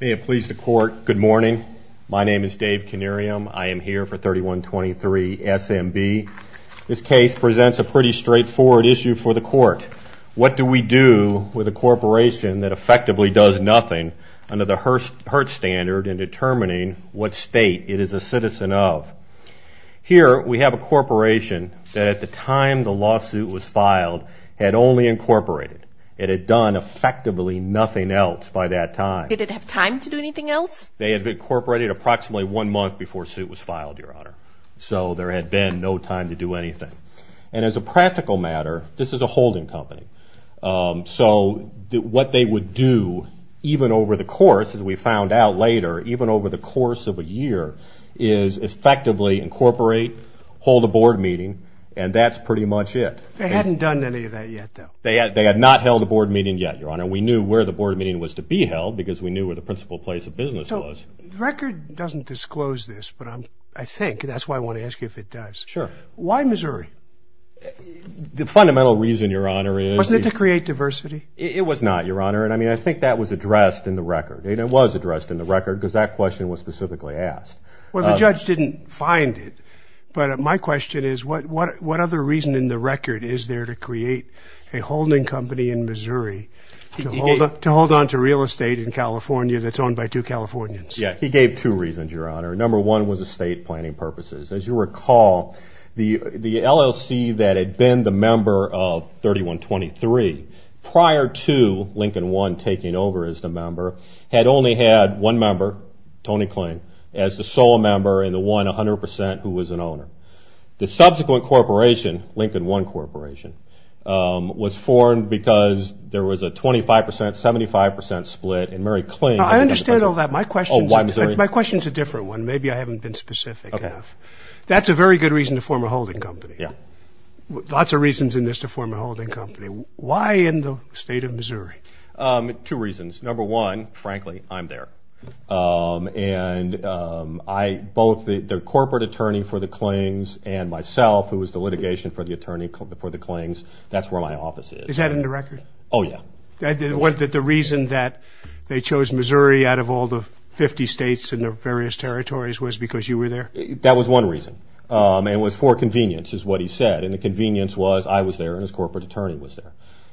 May it please the court, good morning. My name is Dave Canarium. I am here for 3123 SMB. This case presents a pretty straightforward issue for the court. What do we do with a corporation that effectively does nothing under the HERSH standard in determining what state it is a citizen of? Here we have a corporation that at the time the lawsuit was filed had only incorporated. It had done effectively nothing else. Did it have time to do anything else? They had incorporated approximately one month before the suit was filed, your honor. So there had been no time to do anything. And as a practical matter, this is a holding company. So what they would do even over the course, as we found out later, even over the course of a year, is effectively incorporate, hold a board meeting, and that's pretty much it. They hadn't done any of that yet, though. They had not held a board meeting yet, your honor. We knew where the board meeting was to be held because we knew where the principal place of business was. The record doesn't disclose this, but I think, and that's why I want to ask you if it does. Sure. Why Missouri? The fundamental reason, your honor, is... Wasn't it to create diversity? It was not, your honor. And I mean, I think that was addressed in the record. It was addressed in the record because that question was specifically asked. Well, the judge didn't find it. But my question is, what other reason in the record is there to create a holding company in Missouri to hold on to real estate in California that's owned by two Californians? Yeah, he gave two reasons, your honor. Number one was estate planning purposes. As you recall, the LLC that had been the member of 3123 prior to Lincoln One taking over as the member had only had one member, Tony Kling, as the sole member and the one 100% who was an owner. The subsequent corporation, Lincoln One Corporation, was formed because there was a 25%, 75% split and Mary Kling... That's a very good reason to form a holding company. Yeah. Lots of reasons in this to form a holding company. Why in the state of Missouri? Two reasons. Number one, frankly, I'm there. And I, both the corporate attorney for the Klings and myself, who was the litigation for the Klings, that's where my office is. Is that in the record? Oh, yeah. The reason that they chose Missouri out of all the 50 states and the various territories was because you were there? That was one reason. It was for convenience, is what he said. And the convenience was I was there and his corporate attorney was there.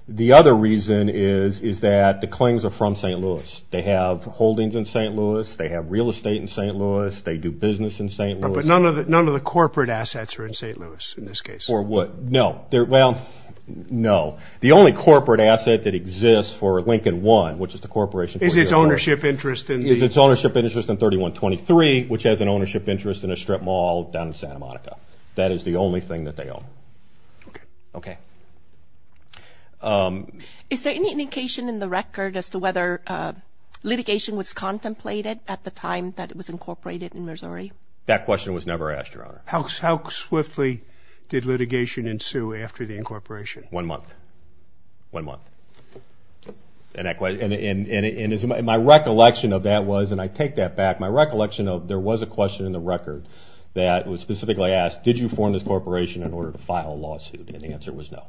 The other reason is that the Klings are from St. Louis. They have holdings in St. Louis. They have real estate in St. Louis. They do business in St. Louis. But none of the corporate assets are in St. Louis in this case? No. Well, no. The only corporate asset that exists for Lincoln One, which is the corporation... Is its ownership interest in... That is the only thing that they own. Okay. Okay. Is there any indication in the record as to whether litigation was contemplated at the time that it was incorporated in Missouri? That question was never asked, Your Honor. How swiftly did litigation ensue after the incorporation? One month. One month. And my recollection of that was, and I take that back, my recollection of there was a question in the record that was specifically asked, did you form this corporation in order to file a lawsuit? And the answer was no.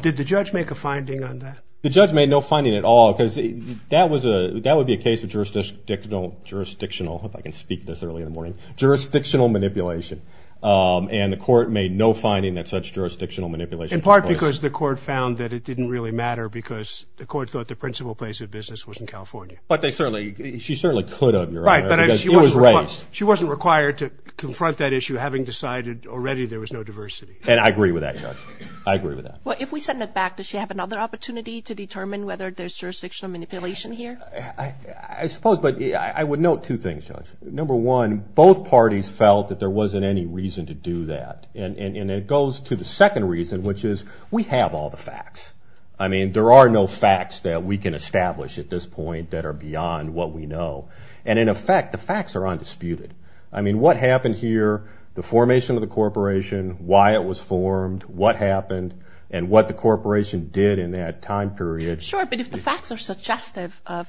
Did the judge make a finding on that? The judge made no finding at all because that would be a case of jurisdictional, if I can speak this early in the morning, jurisdictional manipulation. And the court made no finding that such jurisdictional manipulation took place. Because the court found that it didn't really matter because the court thought the principal place of business was in California. But they certainly, she certainly could have, Your Honor. Right. Because it was raised. She wasn't required to confront that issue having decided already there was no diversity. And I agree with that, Judge. I agree with that. Well, if we send it back, does she have another opportunity to determine whether there's jurisdictional manipulation here? I suppose, but I would note two things, Judge. Number one, both parties felt that there wasn't any reason to do that. And it goes to the second reason, which is we have all the facts. I mean, there are no facts that we can establish at this point that are beyond what we know. And in effect, the facts are undisputed. I mean, what happened here, the formation of the corporation, why it was formed, what happened, and what the corporation did in that time period. Sure, but if the facts are suggestive of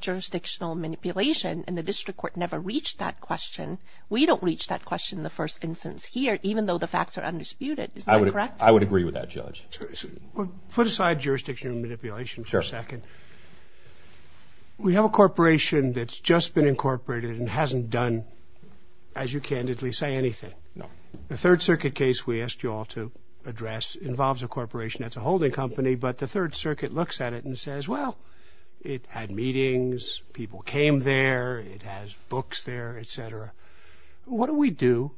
jurisdictional manipulation and the district court never reached that question, we don't reach that question in the first instance here, even though the facts are undisputed. Is that correct? I would agree with that, Judge. Put aside jurisdictional manipulation for a second. Sure. We have a corporation that's just been incorporated and hasn't done, as you candidly say, anything. No. The Third Circuit case we asked you all to address involves a corporation that's a holding company, but the Third Circuit looks at it and says, well, it had meetings, people came there, it has books there, et cetera. What do we do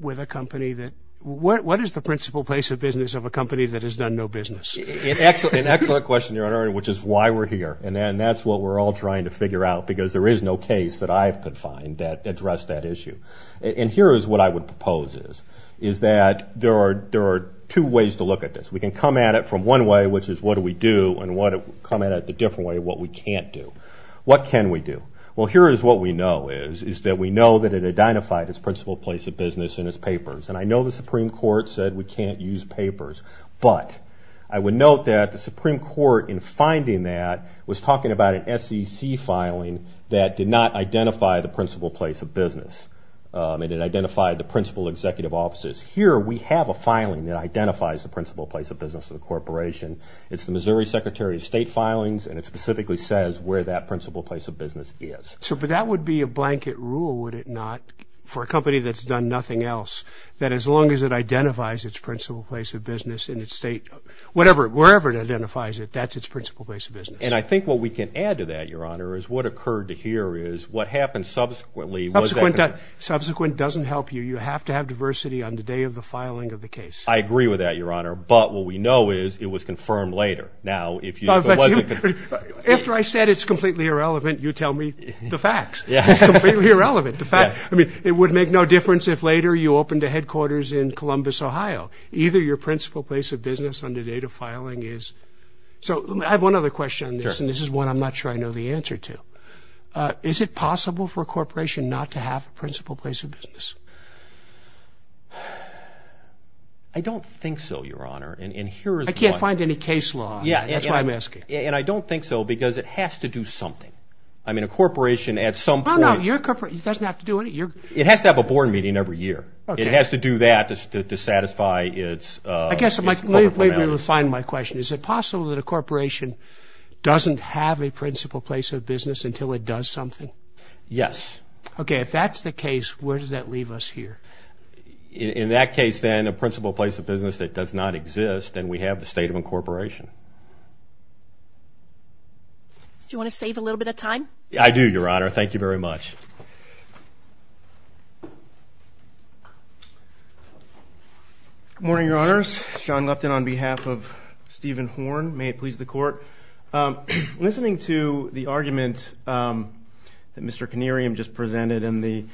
with a company that – what is the principal place of business of a company that has done no business? An excellent question, Your Honor, which is why we're here. And that's what we're all trying to figure out because there is no case that I could find that addressed that issue. And here is what I would propose is, is that there are two ways to look at this. We can come at it from one way, which is what do we do, and come at it the different way, what we can't do. What can we do? Well, here is what we know is, is that we know that it identified its principal place of business in its papers. And I know the Supreme Court said we can't use papers, but I would note that the Supreme Court in finding that was talking about an SEC filing that did not identify the principal place of business. It identified the principal executive offices. Here we have a filing that identifies the principal place of business of the corporation. It's the Missouri Secretary of State filings, and it specifically says where that principal place of business is. But that would be a blanket rule, would it not, for a company that's done nothing else, that as long as it identifies its principal place of business in its state, wherever it identifies it, that's its principal place of business. And I think what we can add to that, Your Honor, is what occurred to here is what happened subsequently. Subsequent doesn't help you. You have to have diversity on the day of the filing of the case. I agree with that, Your Honor. But what we know is it was confirmed later. Now, if it wasn't. After I said it's completely irrelevant, you tell me the facts. It's completely irrelevant. I mean, it would make no difference if later you opened a headquarters in Columbus, Ohio. Either your principal place of business on the date of filing is. So I have one other question on this, and this is one I'm not sure I know the answer to. Is it possible for a corporation not to have a principal place of business? I don't think so, Your Honor. I can't find any case law. That's why I'm asking. And I don't think so because it has to do something. I mean, a corporation at some point. It doesn't have to do anything. It has to have a board meeting every year. It has to do that to satisfy its. Let me refine my question. Is it possible that a corporation doesn't have a principal place of business until it does something? Yes. Okay, if that's the case, where does that leave us here? In that case, then, a principal place of business that does not exist, then we have the state of incorporation. Do you want to save a little bit of time? I do, Your Honor. Thank you very much. Good morning, Your Honors. Sean Lepton on behalf of Stephen Horn. May it please the Court. Listening to the argument that Mr. Connerium just presented and the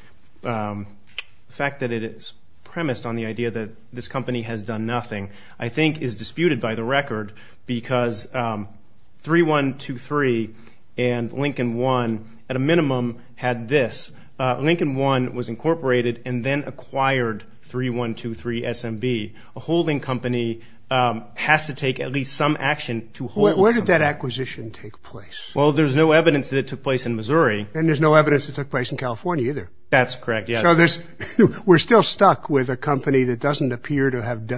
fact that it is premised on the idea that this company has done nothing, I think is disputed by the record because 3123 and Lincoln One, at a minimum, had this. Lincoln One was incorporated and then acquired 3123 SMB, a holding company has to take at least some action to hold it. Where did that acquisition take place? Well, there's no evidence that it took place in Missouri. And there's no evidence it took place in California either. That's correct, yes. So we're still stuck with a company that doesn't appear to have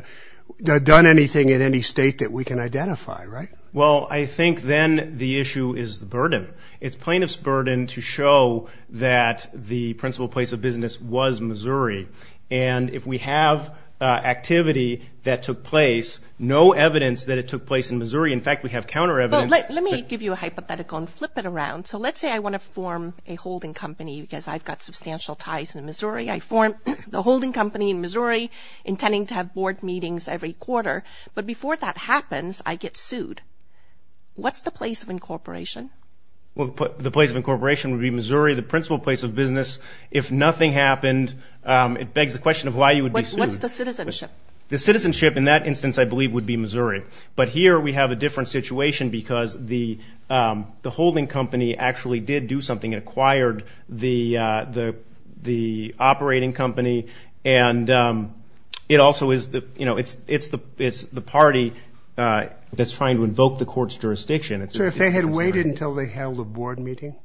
done anything in any state that we can identify, right? Well, I think then the issue is the burden. It's plaintiff's burden to show that the principal place of business was Missouri. And if we have activity that took place, no evidence that it took place in Missouri. In fact, we have counter evidence. Well, let me give you a hypothetical and flip it around. So let's say I want to form a holding company because I've got substantial ties in Missouri. I form the holding company in Missouri intending to have board meetings every quarter. But before that happens, I get sued. What's the place of incorporation? Well, the place of incorporation would be Missouri, the principal place of business. If nothing happened, it begs the question of why you would be sued. What's the citizenship? The citizenship in that instance, I believe, would be Missouri. But here we have a different situation because the holding company actually did do something. It acquired the operating company. And it also is the party that's trying to invoke the court's jurisdiction. So if they had waited until they held a board meeting?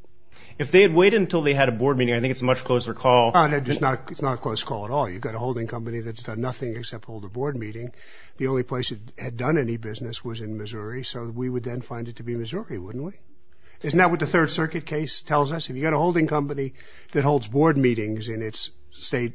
If they had waited until they had a board meeting, I think it's a much closer call. It's not a close call at all. You've got a holding company that's done nothing except hold a board meeting. The only place it had done any business was in Missouri. So we would then find it to be Missouri, wouldn't we? Isn't that what the Third Circuit case tells us? If you've got a holding company that holds board meetings in a state,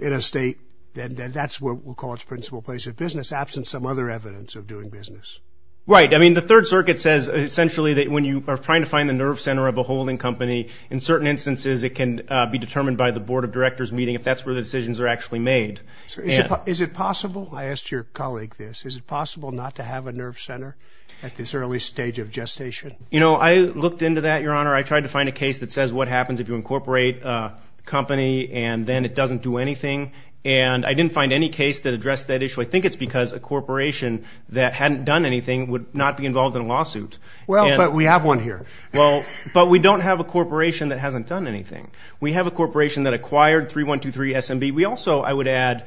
then that's what we'll call its principal place of business, absent some other evidence of doing business. Right. I mean, the Third Circuit says, essentially, that when you are trying to find the nerve center of a holding company, in certain instances it can be determined by the board of directors meeting if that's where the decisions are actually made. Is it possible? I asked your colleague this. Is it possible not to have a nerve center at this early stage of gestation? You know, I looked into that, Your Honor. I tried to find a case that says what happens if you incorporate a company and then it doesn't do anything. And I didn't find any case that addressed that issue. So I think it's because a corporation that hadn't done anything would not be involved in a lawsuit. Well, but we have one here. Well, but we don't have a corporation that hasn't done anything. We have a corporation that acquired 3123 SMB. We also, I would add,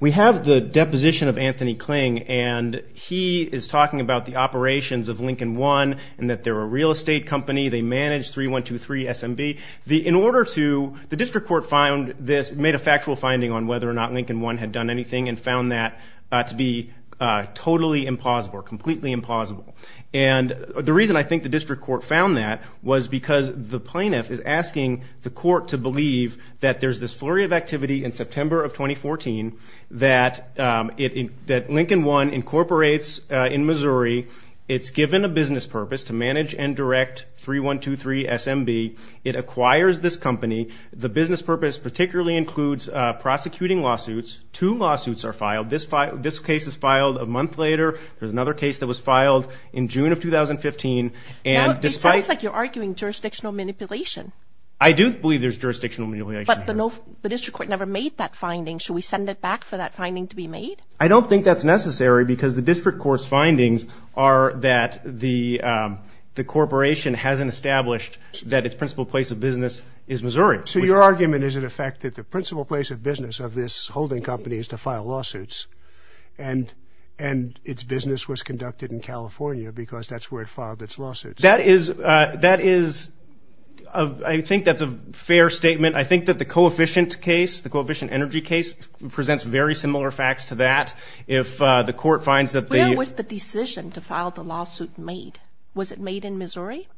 we have the deposition of Anthony Kling, and he is talking about the operations of Lincoln One and that they're a real estate company. They manage 3123 SMB. In order to the district court made a factual finding on whether or not Lincoln One had done anything and found that to be totally implausible or completely implausible. And the reason I think the district court found that was because the plaintiff is asking the court to believe that there's this flurry of activity in September of 2014 that Lincoln One incorporates in Missouri. It's given a business purpose to manage and direct 3123 SMB. It acquires this company. The business purpose particularly includes prosecuting lawsuits. Two lawsuits are filed. This case is filed a month later. There's another case that was filed in June of 2015. Now it sounds like you're arguing jurisdictional manipulation. I do believe there's jurisdictional manipulation. But the district court never made that finding. Should we send it back for that finding to be made? I don't think that's necessary because the district court's findings are that the corporation hasn't established that its principal place of business is Missouri. So your argument is, in effect, that the principal place of business of this holding company is to file lawsuits and its business was conducted in California because that's where it filed its lawsuits. That is a fair statement. I think that the Coefficient case, the Coefficient Energy case, presents very similar facts to that. Where was the decision to file the lawsuit made? Was it made in Missouri?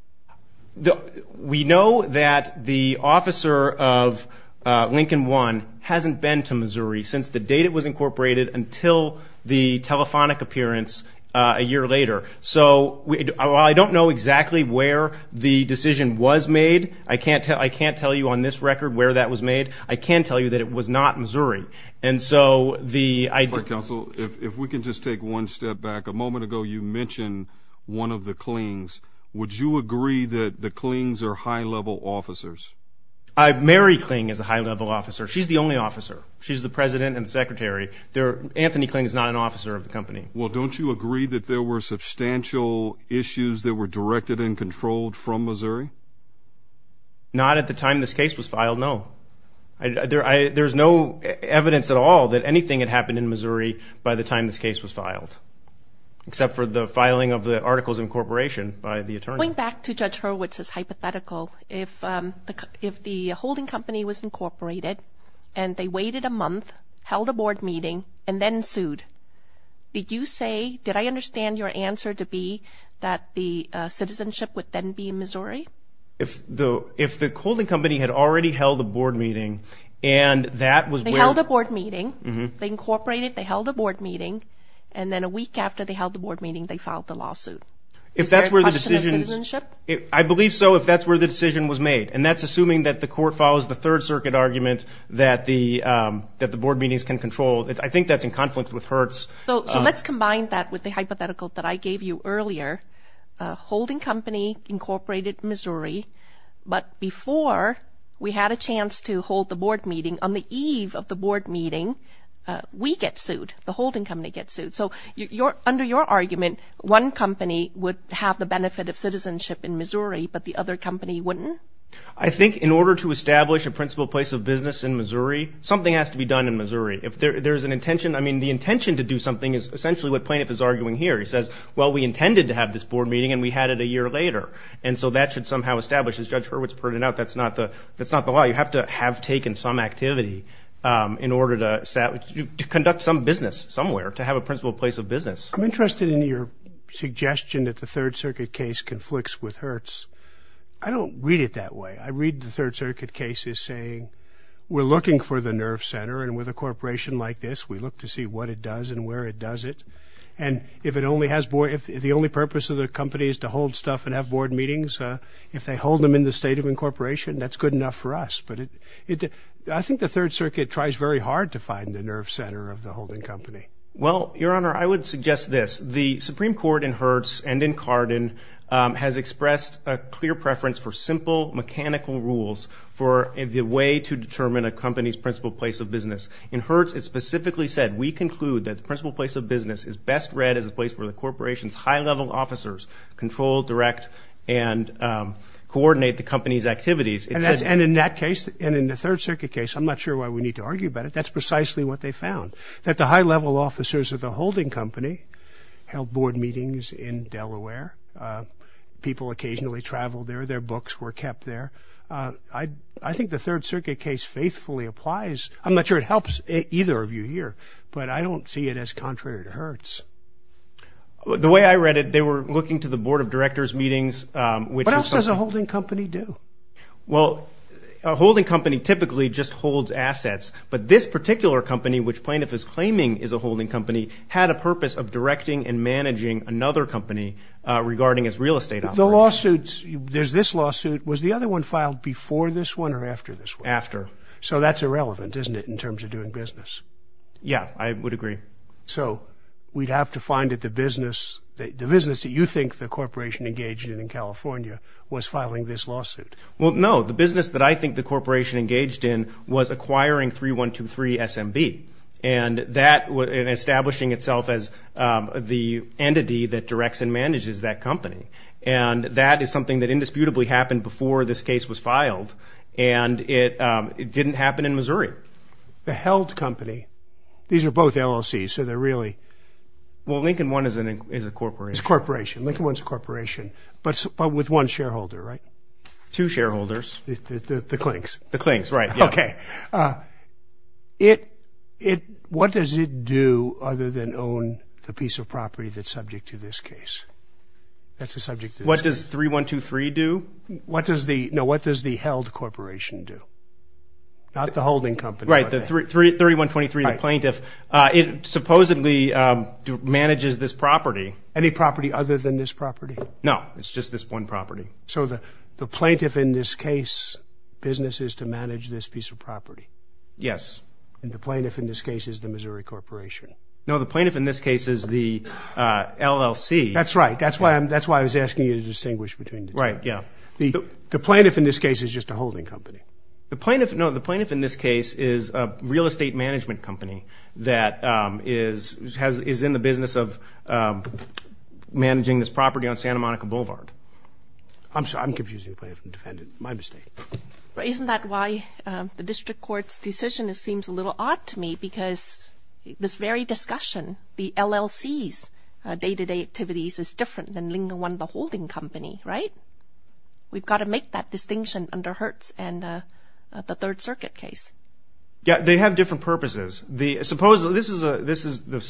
We know that the officer of Lincoln One hasn't been to Missouri since the date it was incorporated until the telephonic appearance a year later. So I don't know exactly where the decision was made. I can't tell you on this record where that was made. I can tell you that it was not Missouri. If we can just take one step back. A moment ago you mentioned one of the Klings. Would you agree that the Klings are high-level officers? Mary Kling is a high-level officer. She's the only officer. She's the president and secretary. Anthony Kling is not an officer of the company. Well, don't you agree that there were substantial issues that were directed and controlled from Missouri? Not at the time this case was filed, no. There's no evidence at all that anything had happened in Missouri by the time this case was filed, except for the filing of the articles of incorporation by the attorney. Going back to Judge Hurwitz's hypothetical, if the holding company was incorporated and they waited a month, held a board meeting, and then sued, did you say, did I understand your answer to be that the citizenship would then be in Missouri? If the holding company had already held a board meeting and that was where the- They held a board meeting. They incorporated. They held a board meeting, and then a week after they held the board meeting they filed the lawsuit. Is there a question of citizenship? I believe so if that's where the decision was made, and that's assuming that the court follows the Third Circuit argument that the board meetings can control. I think that's in conflict with Hertz. So let's combine that with the hypothetical that I gave you earlier. A holding company incorporated Missouri, but before we had a chance to hold the board meeting, on the eve of the board meeting, we get sued. The holding company gets sued. So under your argument, one company would have the benefit of citizenship in Missouri, but the other company wouldn't? I think in order to establish a principal place of business in Missouri, something has to be done in Missouri. If there's an intention, I mean, the intention to do something is essentially what Plaintiff is arguing here. He says, well, we intended to have this board meeting and we had it a year later. And so that should somehow establish, as Judge Hurwitz pointed out, that's not the law. You have to have taken some activity in order to conduct some business somewhere, to have a principal place of business. I'm interested in your suggestion that the Third Circuit case conflicts with Hertz. I don't read it that way. I read the Third Circuit cases saying we're looking for the nerve center, and with a corporation like this we look to see what it does and where it does it. And if the only purpose of the company is to hold stuff and have board meetings, if they hold them in the state of incorporation, that's good enough for us. But I think the Third Circuit tries very hard to find the nerve center of the holding company. Well, Your Honor, I would suggest this. The Supreme Court in Hertz and in Cardin has expressed a clear preference for simple, mechanical rules for the way to determine a company's principal place of business. In Hertz it specifically said, we conclude that the principal place of business is best read as a place where the corporation's high-level officers control, direct, and coordinate the company's activities. And in that case, and in the Third Circuit case, I'm not sure why we need to argue about it. That's precisely what they found, that the high-level officers of the holding company held board meetings in Delaware. People occasionally traveled there. Their books were kept there. I think the Third Circuit case faithfully applies. I'm not sure it helps either of you here, but I don't see it as contrary to Hertz. The way I read it, they were looking to the board of directors' meetings, which is something. What else does a holding company do? Well, a holding company typically just holds assets. But this particular company, which Plaintiff is claiming is a holding company, had a purpose of directing and managing another company regarding its real estate operations. The lawsuits, there's this lawsuit. Was the other one filed before this one or after this one? After. So that's irrelevant, isn't it, in terms of doing business? Yeah, I would agree. So we'd have to find that the business that you think the corporation engaged in in California was filing this lawsuit. Well, no. The business that I think the corporation engaged in was acquiring 3123 SMB and establishing itself as the entity that directs and manages that company. And that is something that indisputably happened before this case was filed. And it didn't happen in Missouri. The held company, these are both LLCs, so they're really... Well, Lincoln One is a corporation. It's a corporation. Lincoln One's a corporation, but with one shareholder, right? Two shareholders. The Klinks. The Klinks, right, yeah. Okay. What does it do other than own the piece of property that's subject to this case? What does 3123 do? No, what does the held corporation do? Not the holding company. Right, 3123, the plaintiff. It supposedly manages this property. Any property other than this property? No, it's just this one property. So the plaintiff in this case businesses to manage this piece of property. Yes. And the plaintiff in this case is the Missouri Corporation. No, the plaintiff in this case is the LLC. That's right. That's why I was asking you to distinguish between the two. Right, yeah. The plaintiff in this case is just a holding company. No, the plaintiff in this case is a real estate management company that is in the business of managing this property on Santa Monica Boulevard. I'm sorry, I'm confusing the plaintiff and defendant. My mistake. Isn't that why the district court's decision seems a little odd to me? Because this very discussion, the LLC's day-to-day activities is different than Lincoln One, the holding company, right? We've got to make that distinction under Hertz and the Third Circuit case. Yeah, they have different purposes. Supposedly, this is the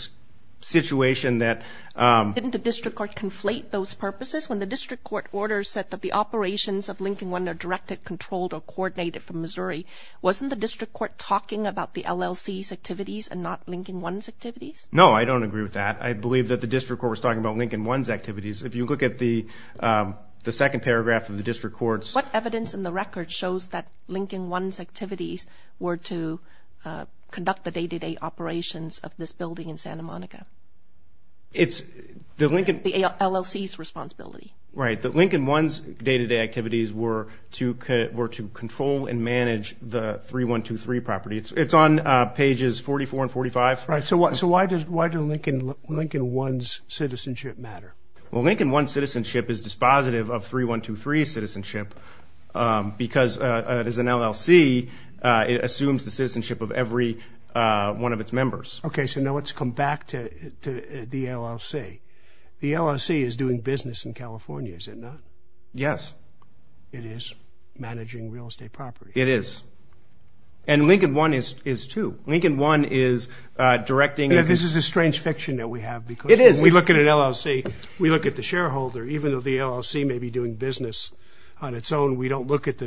situation that— Didn't the district court conflate those purposes? When the district court order said that the operations of Lincoln One are directed, controlled, or coordinated from Missouri, wasn't the district court talking about the LLC's activities and not Lincoln One's activities? No, I don't agree with that. I believe that the district court was talking about Lincoln One's activities. If you look at the second paragraph of the district court's— What evidence in the record shows that Lincoln One's activities were to conduct the day-to-day operations of this building in Santa Monica? The LLC's responsibility. Right, that Lincoln One's day-to-day activities were to control and manage the 3123 property. It's on pages 44 and 45. Right, so why does Lincoln One's citizenship matter? Well, Lincoln One's citizenship is dispositive of 3123's citizenship because as an LLC, it assumes the citizenship of every one of its members. Okay, so now let's come back to the LLC. The LLC is doing business in California, is it not? Yes. It is managing real estate property. It is, and Lincoln One is too. Lincoln One is directing— This is a strange fiction that we have because when we look at an LLC, we look at the shareholder. Even though the LLC may be doing business on its own, we don't look at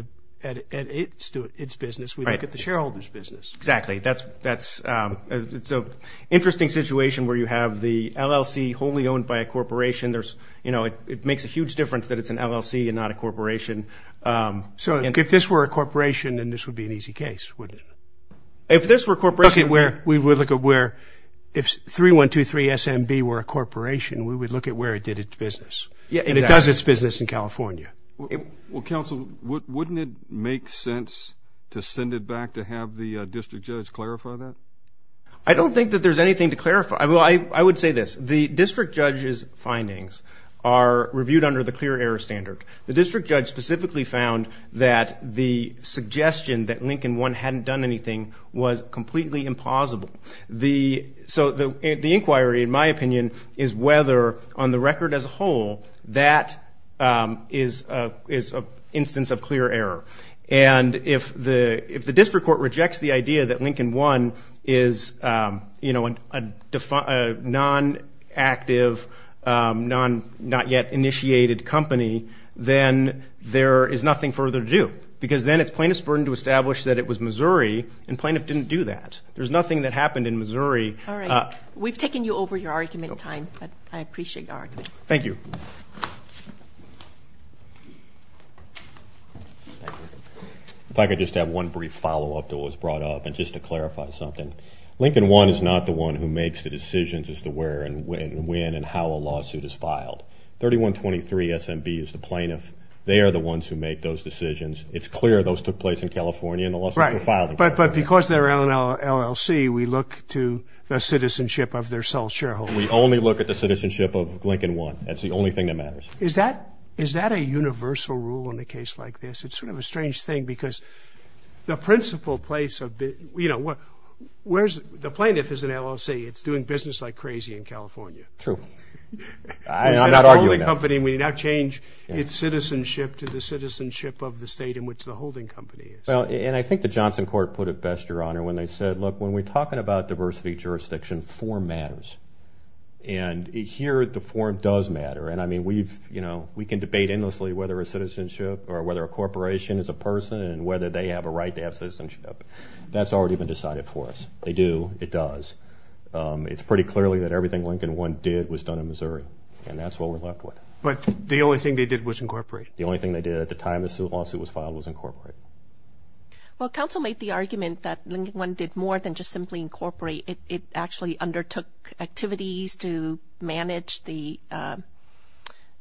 its business. We look at the shareholder's business. Exactly. It's an interesting situation where you have the LLC wholly owned by a corporation. It makes a huge difference that it's an LLC and not a corporation. So if this were a corporation, then this would be an easy case, wouldn't it? If this were a corporation, we would look at where if 3123 SMB were a corporation, we would look at where it did its business. And it does its business in California. Well, counsel, wouldn't it make sense to send it back to have the district judge clarify that? I don't think that there's anything to clarify. I would say this. The district judge's findings are reviewed under the clear error standard. The district judge specifically found that the suggestion that Lincoln One hadn't done anything was completely impossible. So the inquiry, in my opinion, is whether on the record as a whole that is an instance of clear error. And if the district court rejects the idea that Lincoln One is a non-active, not-yet-initiated company, then there is nothing further to do. Because then it's plaintiff's burden to establish that it was Missouri, and plaintiff didn't do that. There's nothing that happened in Missouri. All right. We've taken you over your argument in time, but I appreciate your argument. Thank you. If I could just add one brief follow-up to what was brought up, and just to clarify something. Lincoln One is not the one who makes the decisions as to where and when and how a lawsuit is filed. 3123 SMB is the plaintiff. They are the ones who make those decisions. It's clear those took place in California, and the lawsuits were filed in California. But because they're an LLC, we look to the citizenship of their sole shareholder. We only look at the citizenship of Lincoln One. That's the only thing that matters. Is that a universal rule in a case like this? It's sort of a strange thing, because the principal place of the – you know, where's – the plaintiff is an LLC. It's doing business like crazy in California. True. I'm not arguing that. It's the only company. We did not change its citizenship to the citizenship of the state in which the holding company is. Well, and I think the Johnson court put it best, Your Honor, when they said, look, when we're talking about diversity jurisdiction, form matters. And here the form does matter. And, I mean, we've – you know, we can debate endlessly whether a citizenship or whether a corporation is a person and whether they have a right to have citizenship. That's already been decided for us. They do. It does. It's pretty clearly that everything Lincoln One did was done in Missouri, and that's what we're left with. But the only thing they did was incorporate. The only thing they did at the time this lawsuit was filed was incorporate. Well, counsel made the argument that Lincoln One did more than just simply incorporate. It actually undertook activities to manage the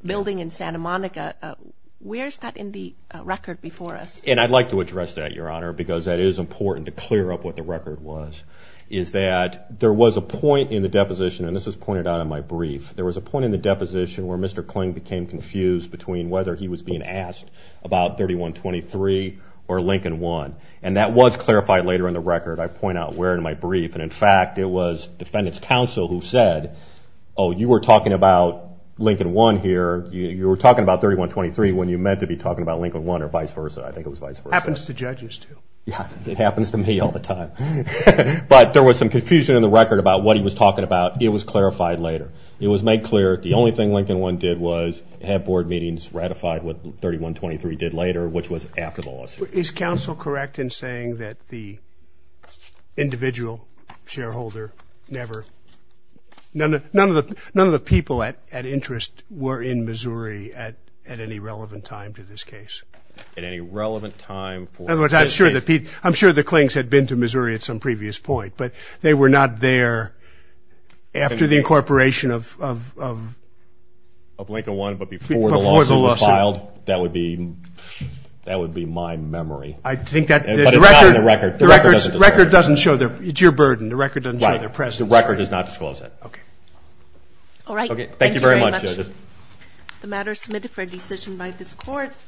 building in Santa Monica. Where is that in the record before us? And I'd like to address that, Your Honor, because that is important to clear up what the record was, is that there was a point in the deposition, and this was pointed out in my brief, there was a point in the deposition where Mr. Kling became confused between whether he was being asked about 3123 or Lincoln One. And that was clarified later in the record. I point out where in my brief. And, in fact, it was defendant's counsel who said, oh, you were talking about Lincoln One here, you were talking about 3123 when you meant to be talking about Lincoln One or vice versa. I think it was vice versa. Happens to judges too. Yeah, it happens to me all the time. But there was some confusion in the record about what he was talking about. It was clarified later. It was made clear the only thing Lincoln One did was have board meetings ratified what 3123 did later, which was after the lawsuit. Is counsel correct in saying that the individual shareholder never, none of the people at interest were in Missouri at any relevant time to this case? At any relevant time for this case? In other words, I'm sure the Klings had been to Missouri at some previous point, but they were not there after the incorporation of Lincoln One. But before the lawsuit was filed, that would be my memory. But it's not in the record. The record doesn't show. The record doesn't show. It's your burden. The record doesn't show their presence. Right. The record does not disclose that. Okay. All right. Thank you very much. Thank you very much. The matter is submitted for decision by this court.